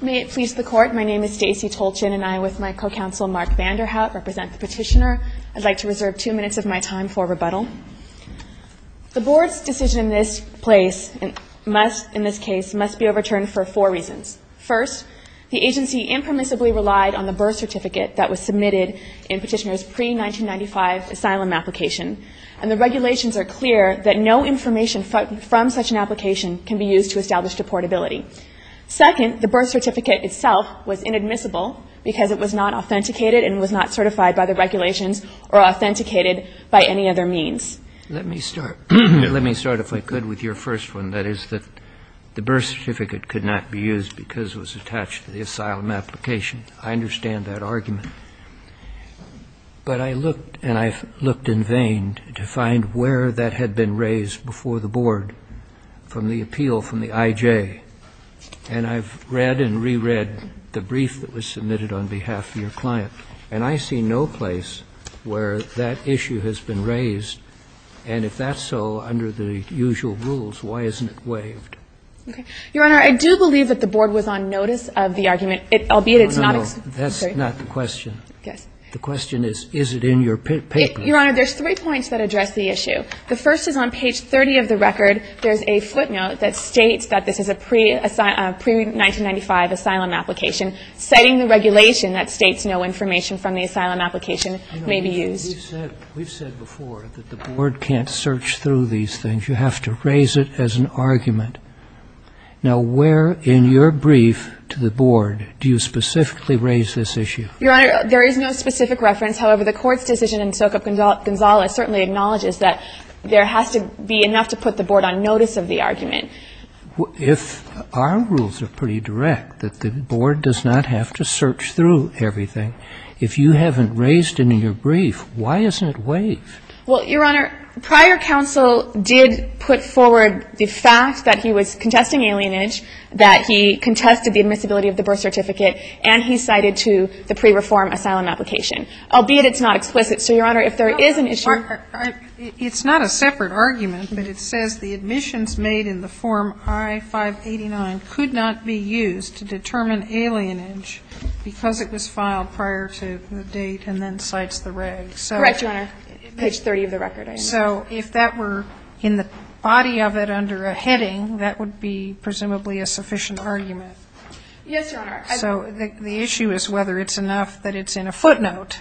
May it please the Court, my name is Stacey Tolchin and I, with my co-counsel Mark Vanderhout, represent the Petitioner. I'd like to reserve two minutes of my time for rebuttal. The Board's decision in this case must be overturned for four reasons. First, the agency impermissibly relied on the birth certificate that was submitted in Petitioner's pre-1995 asylum application, and the regulations are clear that no information from such an application can be used to establish deportability. Second, the birth certificate itself was inadmissible because it was not authenticated and was not certified by the regulations or authenticated by any other means. Let me start, if I could, with your first one, that is that the birth certificate could not be used because it was attached to the asylum application. I understand that argument, but I looked and I've looked in vain to find where that had been raised before the Board from the appeal from the I.J., and I've read and re-read the brief that was submitted on behalf of your client, and I see no place where that issue has been raised, and if that's so, under the usual rules, why isn't it waived? Your Honor, I do believe that the Board was on notice of the argument, albeit it's not ex- No, no, no, that's not the question. Yes. The question is, is it in your paper? Your Honor, there's three points that address the issue. The first is on page 30 of the record. There's a footnote that states that this is a pre-1995 asylum application, citing the regulation that states no information from the asylum application may be used. We've said before that the Board can't search through these things. You have to raise it as an argument. Now, where in your brief to the Board do you specifically raise this issue? Your Honor, there is no specific reference. However, the Court's decision in Socop Gonzales certainly acknowledges that there has to be enough to put the Board on notice of the argument. If our rules are pretty direct, that the Board does not have to search through everything, if you haven't raised it in your brief, why isn't it waived? Well, Your Honor, prior counsel did put forward the fact that he was contesting alienage, that he contested the admissibility of the birth certificate, and he cited to the pre-reform asylum application, albeit it's not explicit. So, Your Honor, if there is an issue or or or it's not a separate argument, but it says the admissions made in the form I-589 could not be used to determine alienage because it was filed prior to the date and then cites the regs. Correct, Your Honor. Page 30 of the record. So, if that were in the body of it under a heading, that would be presumably a sufficient argument. Yes, Your Honor. So, the issue is whether it's enough that it's in a footnote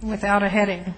without a heading,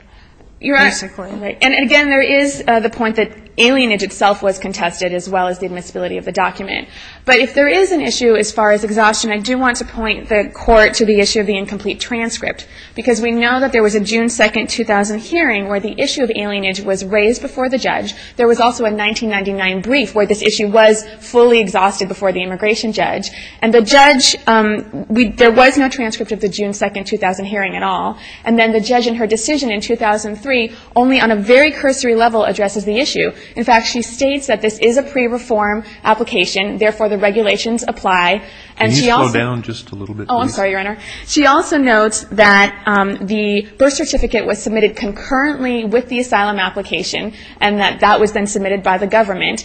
basically. You're right. And again, there is the point that alienage itself was contested as well as the admissibility of the document. But if there is an issue as far as exhaustion, I do want to point the Court to the issue of the incomplete transcript. Because we know that there was a June 2nd, 2000 hearing where the issue of alienage was raised before the judge. There was also a 1999 brief where this issue was fully exhausted before the immigration judge. And the judge, there was no transcript of the June 2nd, 2000 hearing at all. And then the judge in her decision in 2003 only on a very cursory level addresses the issue. In fact, she states that this is a pre-reform application. Therefore, the regulations apply. And she also Can you slow down just a little bit, please? Oh, I'm sorry, Your Honor. She also notes that the birth certificate was submitted concurrently with the asylum application and that that was then submitted by the government.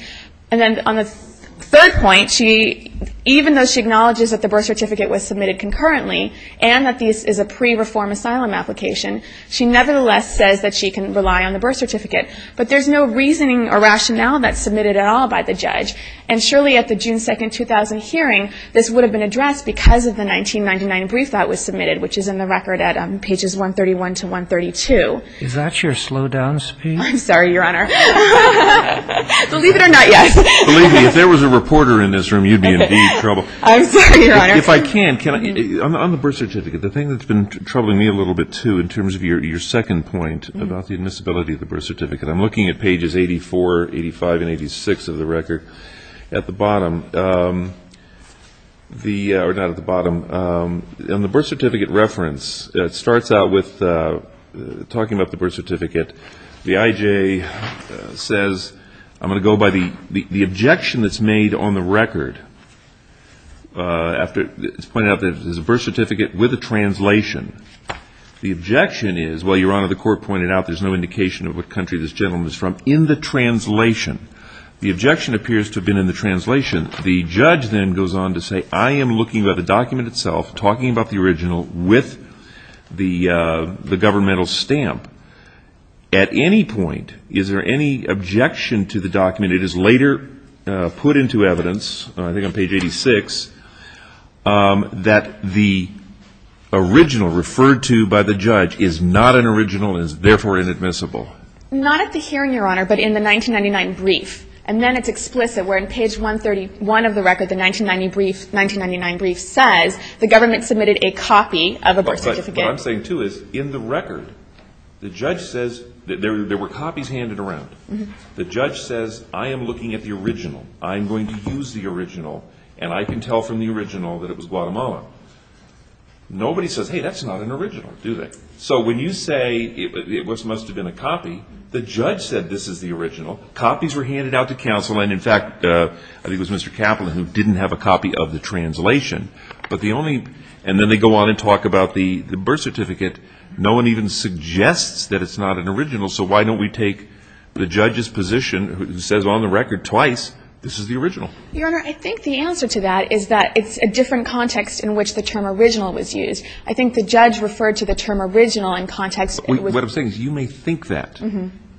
And then on the third point, even though she acknowledges that the birth certificate was submitted concurrently and that this is a pre-reform asylum application, she nevertheless says that she can rely on the birth certificate. But there's no reasoning or rationale that's submitted at all by the judge. And surely at the June 2nd, 2000 hearing, this would have been addressed because of the 1999 brief that was submitted, which is in the record at pages 131 to 132. Is that your slowdown speed? I'm sorry, Your Honor. Believe it or not, yes. Believe me, if there was a reporter in this room, you'd be in deep trouble. I'm sorry, Your Honor. If I can, can I — on the birth certificate, the thing that's been troubling me a little bit, too, in terms of your second point about the admissibility of the birth certificate, I'm looking at pages 84, 85, and 86 of the record at the bottom. The — or not at the bottom. On the birth certificate reference, it starts out with — talking about the birth certificate, the IJ says, I'm going to go by the objection that's made on the record after — it's pointed out that it's a birth certificate with a translation. The objection is, well, Your Honor, the court pointed out there's no indication of what country this gentleman is from in the translation. The objection appears to have been in the translation. The judge then goes on to say, I am looking at the document itself, talking about the original with the governmental stamp. At any point, is there any objection to the document that is later put into evidence, I think on page 86, that the original referred to by the judge is not an original and is therefore inadmissible? Not at the hearing, Your Honor, but in the 1999 brief. And then it's explicit, where in page 131 of the record, the 1990 brief — 1999 brief says the government submitted a copy of a birth certificate. Right. What I'm saying, too, is in the record, the judge says — there were copies handed around. The judge says, I am looking at the original. I'm going to use the original, and I can tell from the original that it was Guatemala. Nobody says, hey, that's not an original, do they? So when you say it must have been a copy, the judge said this is the original. Copies were handed out to counsel, and in fact, I think it was Mr. Kaplan who didn't have a copy of the translation. But the only — and then they go on and talk about the birth certificate. No one even suggests that it's not an original, so why don't we take the judge's position, who says on the record twice, this is the original? Your Honor, I think the answer to that is that it's a different context in which the term original in context — What I'm saying is you may think that.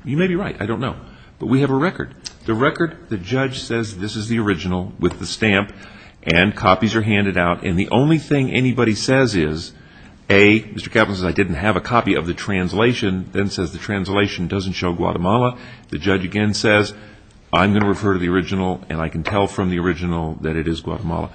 You may be right. I don't know. But we have a record. The record, the judge says this is the original with the stamp, and copies are handed out, and the only thing anybody says is, A, Mr. Kaplan says I didn't have a copy of the translation, then says the translation doesn't show Guatemala. The judge again says, I'm going to refer to the original, and I can tell from the original that it is Guatemala.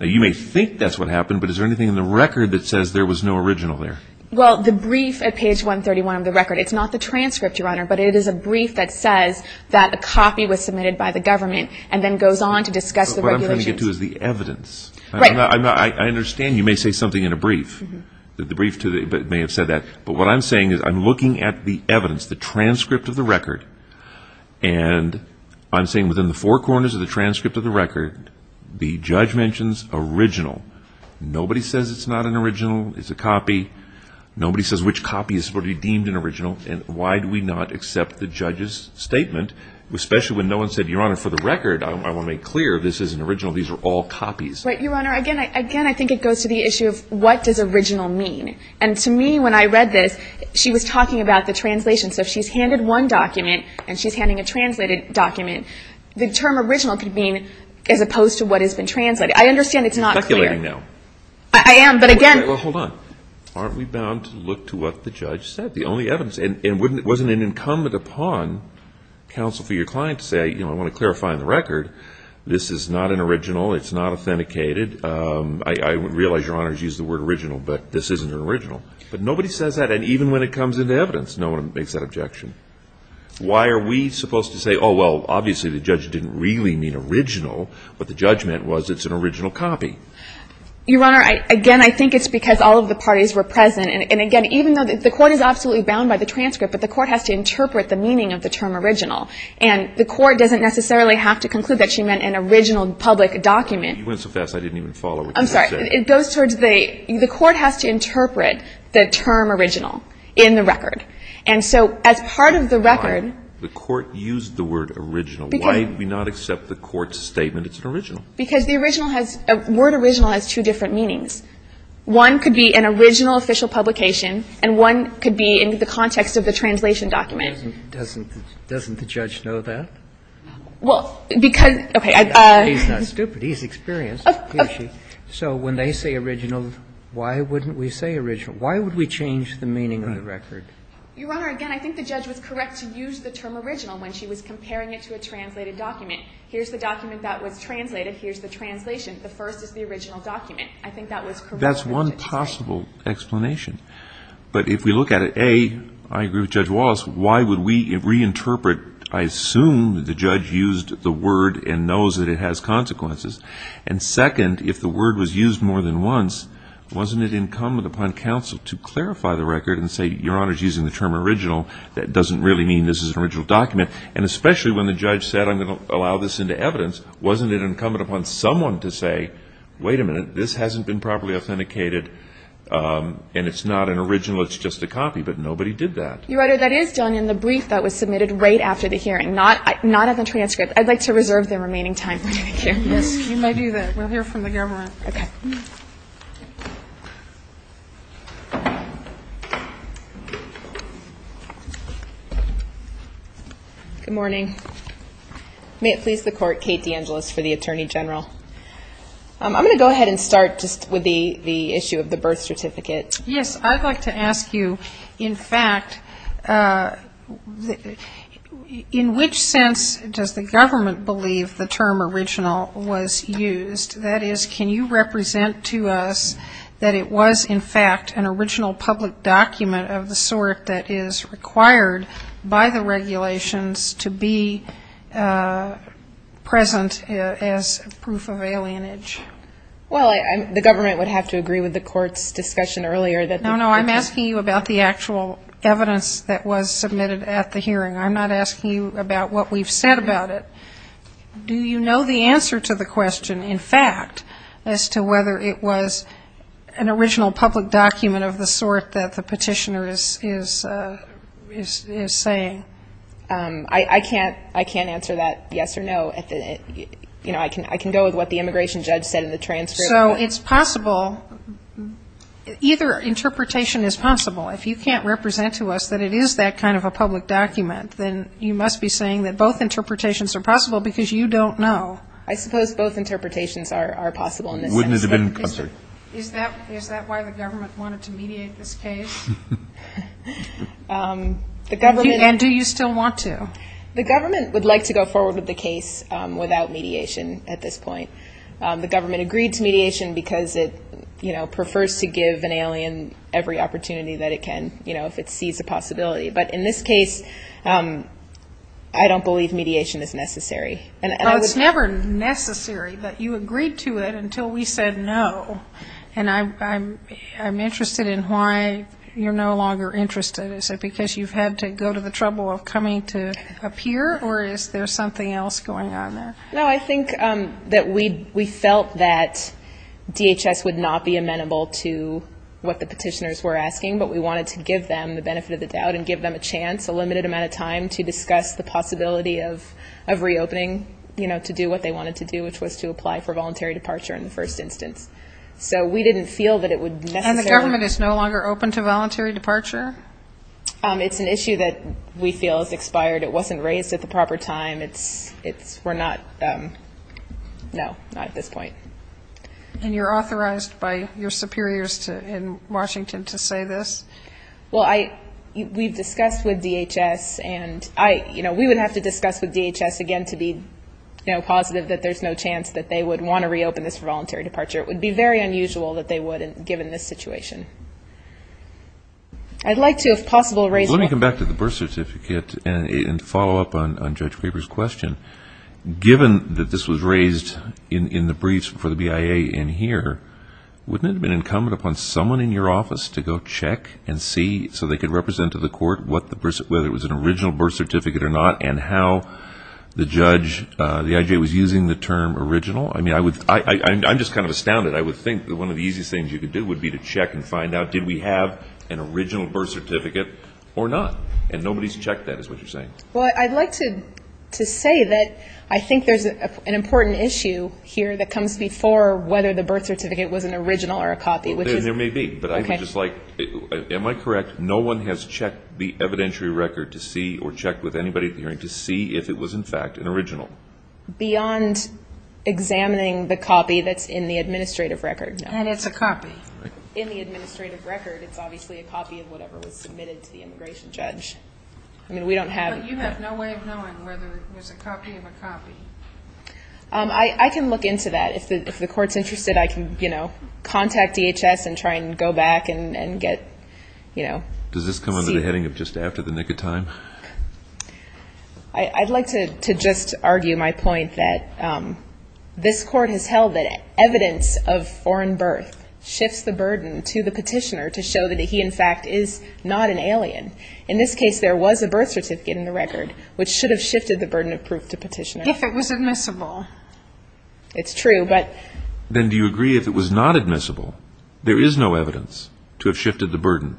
You may think that's what happened, but is there anything in the record that says there was no original there? Well, the brief at page 131 of the record, it's not the transcript, Your Honor, but it is a brief that says that a copy was submitted by the government and then goes on to discuss the regulations. But what I'm trying to get to is the evidence. Right. I understand you may say something in a brief. The brief may have said that. But what I'm saying is I'm looking at the evidence, the transcript of the record, and I'm saying within the four corners of the transcript of the record, the judge mentions original. Nobody says it's not an original. It's a copy. Nobody says which copy is going to be deemed an original. And why do we not accept the judge's statement, especially when no one said, Your Honor, for the record, I want to make clear this is an original. These are all copies. Right, Your Honor. Again, I think it goes to the issue of what does original mean? And to me, when I read this, she was talking about the translation. So if she's handed one document and she's handing a translated document, the term original could mean as opposed to what has been translated. I understand it's not clear. I am, but again Hold on. Aren't we bound to look to what the judge said, the only evidence? And wasn't it incumbent upon counsel for your client to say, I want to clarify on the record, this is not an original. It's not authenticated. I realize, Your Honor, she used the word original, but this isn't an original. But nobody says that. And even when it comes into evidence, no one makes that objection. Why are we supposed to say, oh, well, obviously the judge didn't really mean original. What the judge meant was it's an original copy. Your Honor, again, I think it's because all of the parties were present. And again, even though the court is absolutely bound by the transcript, but the court has to interpret the meaning of the term original. And the court doesn't necessarily have to conclude that she meant an original public document. You went so fast I didn't even follow what you said. I'm sorry. It goes towards the court has to interpret the term original in the record. And so as part of the record The court used the word original. Why did we not accept the court's statement it's an original? Because the original has the word original has two different meanings. One could be an original official publication, and one could be in the context of the translation document. Doesn't the judge know that? Well, because, okay. He's not stupid. He's experienced. So when they say original, why wouldn't we say original? Why would we change the meaning of the record? Your Honor, again, I think the judge was correct to use the term original when she was comparing it to a translated document. Here's the document that was translated. Here's the translation. The first is the original document. I think that was correct. That's one possible explanation. But if we look at it, A, I agree with Judge Wallace. Why would we reinterpret? I assume the judge used the word and knows that it has consequences. And second, if the word was used more than once, wasn't it incumbent upon counsel to clarify the record and say, Your Honor, she's using the term original. That doesn't really mean this is an original document. And especially when the judge said, I'm going to allow this into evidence, wasn't it incumbent upon someone to say, wait a minute. This hasn't been properly authenticated, and it's not an original. It's just a copy. But nobody did that. Your Honor, that is done in the brief that was submitted right after the hearing, not at the transcript. I'd like to reserve the remaining time for hearing. Yes, you may do that. We'll hear from the government. Okay. Good morning. May it please the Court, Kate DeAngelis for the Attorney General. I'm going to go ahead and start just with the issue of the birth certificate. Yes, I'd like to ask you, in fact, in which sense does the government believe the term original was used? That is, can you represent to us that it was, in fact, an original public document of the sort that is required by the regulations to be present as proof of alienage? Well, the government would have to agree with the Court's discussion earlier that the No, no. I'm asking you about the actual evidence that was submitted at the hearing. I'm not asking you about what we've said about it. Do you know the answer to the question? In fact, as to whether it was an original public document of the sort that the petitioner is saying? I can't answer that yes or no. You know, I can go with what the immigration judge said in the transcript. So it's possible, either interpretation is possible. If you can't represent to us that it is that kind of a public document, then you must be saying that both interpretations are possible because you don't know. I suppose both interpretations are possible in this sense. Wouldn't it have been, I'm sorry. Is that why the government wanted to mediate this case? And do you still want to? The government would like to go forward with the case without mediation at this point. The government agreed to mediation because it, you know, prefers to give an alien every opportunity that it can, you know, if it sees a possibility. But in this case, I don't believe mediation is necessary. It's never necessary, but you agreed to it until we said no. And I'm interested in why you're no longer interested. Is it because you've had to go to the trouble of coming to appear, or is there something else going on there? No, I think that we felt that DHS would not be amenable to what the petitioners were asking, but we wanted to give them the benefit of the doubt and give them a chance, a limited amount of time, to discuss the possibility of reopening, you know, to do what they wanted to do, which was to apply for voluntary departure in the first instance. So we didn't feel that it would necessarily And the government is no longer open to voluntary departure? It's an issue that we feel has expired. It wasn't raised at the proper time. It's, we're not, no, not at this point. And you're authorized by your superiors in Washington to say this? Well, I, we've discussed with DHS and I, you know, we would have to discuss with DHS again to be, you know, positive that there's no chance that they would want to reopen this for voluntary departure. It would be very unusual that they wouldn't, given this situation. I'd like to, if possible, raise Let me come back to the birth certificate and follow up on Judge Faber's question. Given that this was raised in the briefs for the BIA in here, wouldn't it have been incumbent upon someone in your office to go check and see so they could represent to the court what the birth, whether it was an original birth certificate or not, and how the judge, the IJ, was using the term original? I mean, I would, I'm just kind of astounded. I would think that one of the easiest things you could do would be to check and find out did we have an original birth certificate or not? And nobody's checked that is what you're saying. Well, I'd like to say that I think there's an important issue here that comes before whether the birth certificate was an original or a copy, which is There may be, but I'm just like, am I correct? No one has checked the evidentiary record to see, or checked with anybody at the hearing to see if it was in fact an original. Beyond examining the copy that's in the administrative record, no. And it's a copy. In the administrative record, it's obviously a copy of whatever was submitted to the immigration judge. I mean, we don't have But you have no way of knowing whether it was a copy of a copy. I can look into that. If the court's interested, I can, you know, contact DHS and try and go back and get, you know, Does this come under the heading of just after the nick of time? I'd like to just argue my point that this court has held that evidence of foreign birth shifts the burden to the petitioner to show that he in fact is not an alien. In this case, there was a birth certificate in the record, which should have shifted the burden of proof to petitioner. If it was admissible. It's true. But Then do you agree if it was not admissible, there is no evidence to have shifted the burden?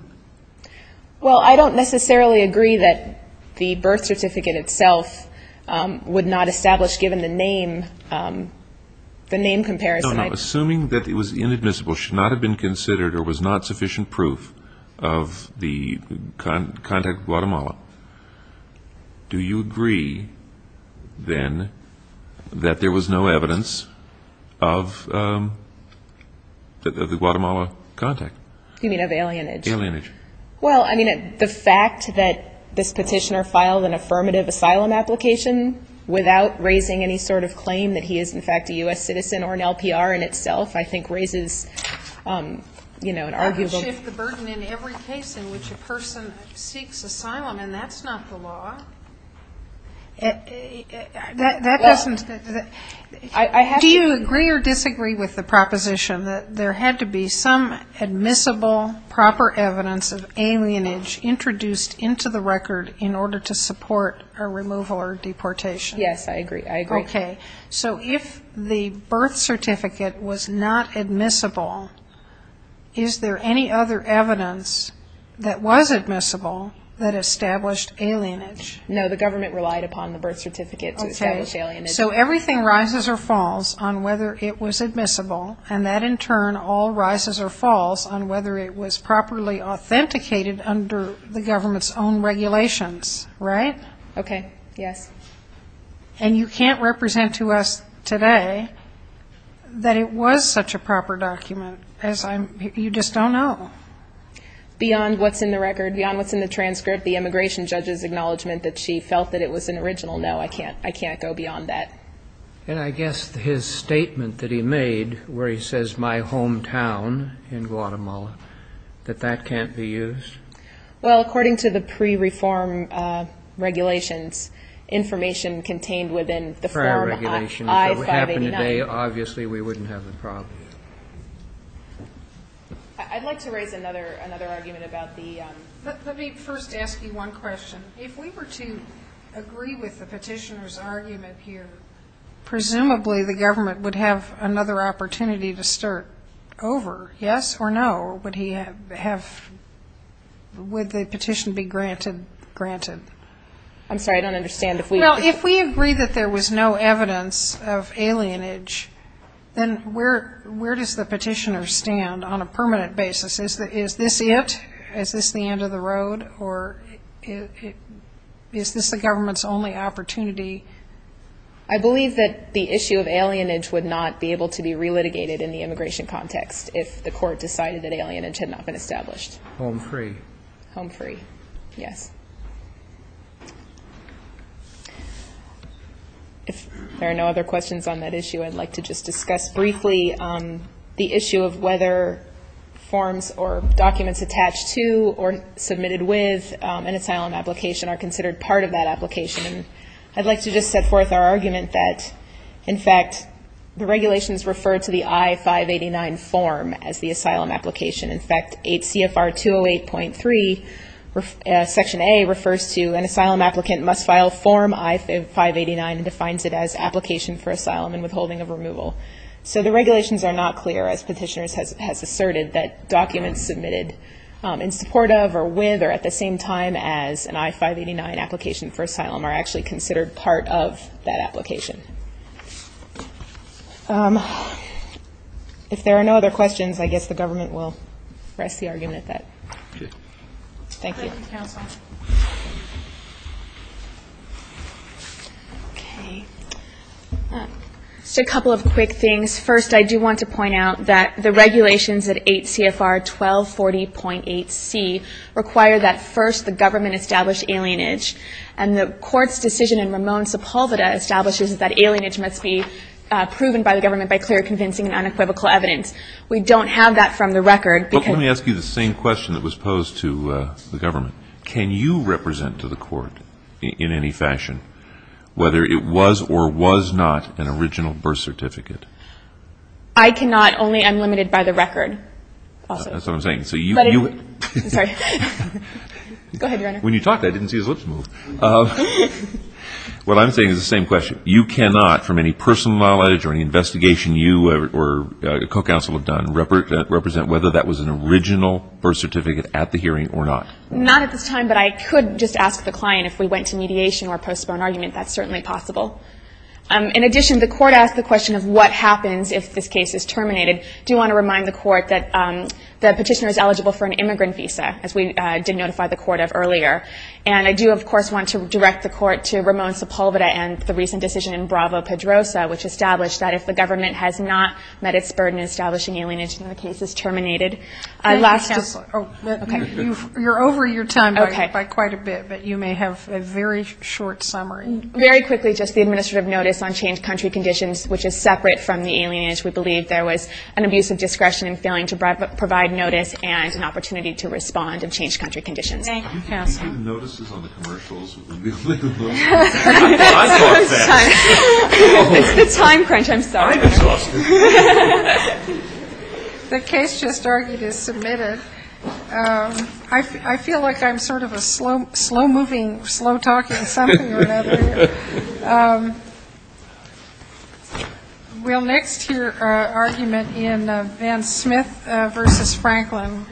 Well, I don't necessarily agree that the birth certificate itself would not establish, given the name, the name comparison. No, no. Assuming that it was inadmissible, should not have been considered or was not sufficient proof of the contact with Guatemala. Do you agree, then, that there was no evidence of the Guatemala contact? You mean of alienage? Alienage. Well, I mean, the fact that this petitioner filed an affirmative asylum application without raising any sort of claim that he is in fact a U.S. citizen or an LPR in itself, I think raises, you know, an arguable Do you agree or disagree with the proposition that there had to be some admissible, proper evidence of alienage introduced into the record in order to support a removal or deportation? Yes. I agree. Okay. So if the birth certificate was not admissible, is there any other evidence that was admissible that established alienage? No, the government relied upon the birth certificate to establish alienage. So everything rises or falls on whether it was admissible, and that in turn all rises or falls on whether it was properly authenticated under the government's own regulations, right? Okay. Yes. And you can't represent to us today that it was such a proper document, as I'm, you just don't know. Beyond what's in the record, beyond what's in the transcript, the immigration judge's acknowledgement that she felt that it was an original, no, I can't, I can't go beyond that. And I guess his statement that he made where he says, my hometown in Guatemala, that that can't be used? Well, according to the pre-reform regulations, information contained within the form I-589 If it happened today, obviously we wouldn't have the problem. I'd like to raise another argument about the Let me first ask you one question. If we were to agree with the petitioner's argument here, presumably the government would have another opportunity to start over, yes or no? Would the petition be granted? I'm sorry, I don't understand. Well, if we agree that there was no evidence of alienage, then where does the petitioner stand on a permanent basis? Is this it? Is this the end of the road? Or is this the government's only opportunity? I believe that the issue of alienage would not be able to be re-litigated in the immigration context if the court decided that alienage had not been established. Home free. Home free, yes. If there are no other questions on that issue, I'd like to just discuss briefly the issue of whether forms or documents attached to or submitted with an asylum application are considered part of that application. I'd like to just set forth our argument that, in fact, the regulations refer to the I-589 form as the asylum application. In fact, CFR 208.3 Section A refers to an asylum applicant must file form I-589 and defines it as application for asylum and withholding of removal. So the regulations are not clear, as petitioners have asserted, that documents submitted in support of or with or at the same time as an I-589 application for asylum are actually considered part of that application. If there are no other questions, I guess the government will rest the argument at that. Okay. Thank you. Thank you, counsel. Okay. Just a couple of quick things. First, I do want to point out that the regulations at 8 CFR 1240.8C require that first the government establish alienage, and the court's decision in Ramon Sepulveda establishes that alienage must be proven by the government by clear, convincing, and unequivocal evidence. We don't have that from the record. Let me ask you the same question that was posed to the government. Can you represent to the court in any fashion whether it was or was not an original birth certificate? I cannot. Only I'm limited by the record. That's what I'm saying. Sorry. Go ahead, Your Honor. When you talked, I didn't see his lips move. What I'm saying is the same question. You cannot, from any personal knowledge or any investigation you or a co-counsel have done, represent whether that was an original birth certificate at the hearing or not? Not at this time. But I could just ask the client if we went to mediation or a postponed argument. That's certainly possible. In addition, the court asked the question of what happens if this case is terminated. I do want to remind the court that the petitioner is eligible for an immigrant visa, as we did notify the court of earlier. And I do, of course, want to direct the court to Ramon Sepulveda and the recent decision in Bravo-Pedrosa, which established that if the government has not met its burden in establishing alienation, the case is terminated. You're over your time by quite a bit, but you may have a very short summary. Very quickly, just the administrative notice on changed country conditions, which is separate from the alienation. We believe there was an abuse of discretion in failing to provide notice and an opportunity to respond in changed country conditions. Thank you, counsel. Have you seen the notices on the commercials? It's the time crunch. I'm sorry. I'm exhausted. The case just argued is submitted. I feel like I'm sort of a slow moving, slow talking something or another here. We'll next hear argument in Van Smith v. Franklin.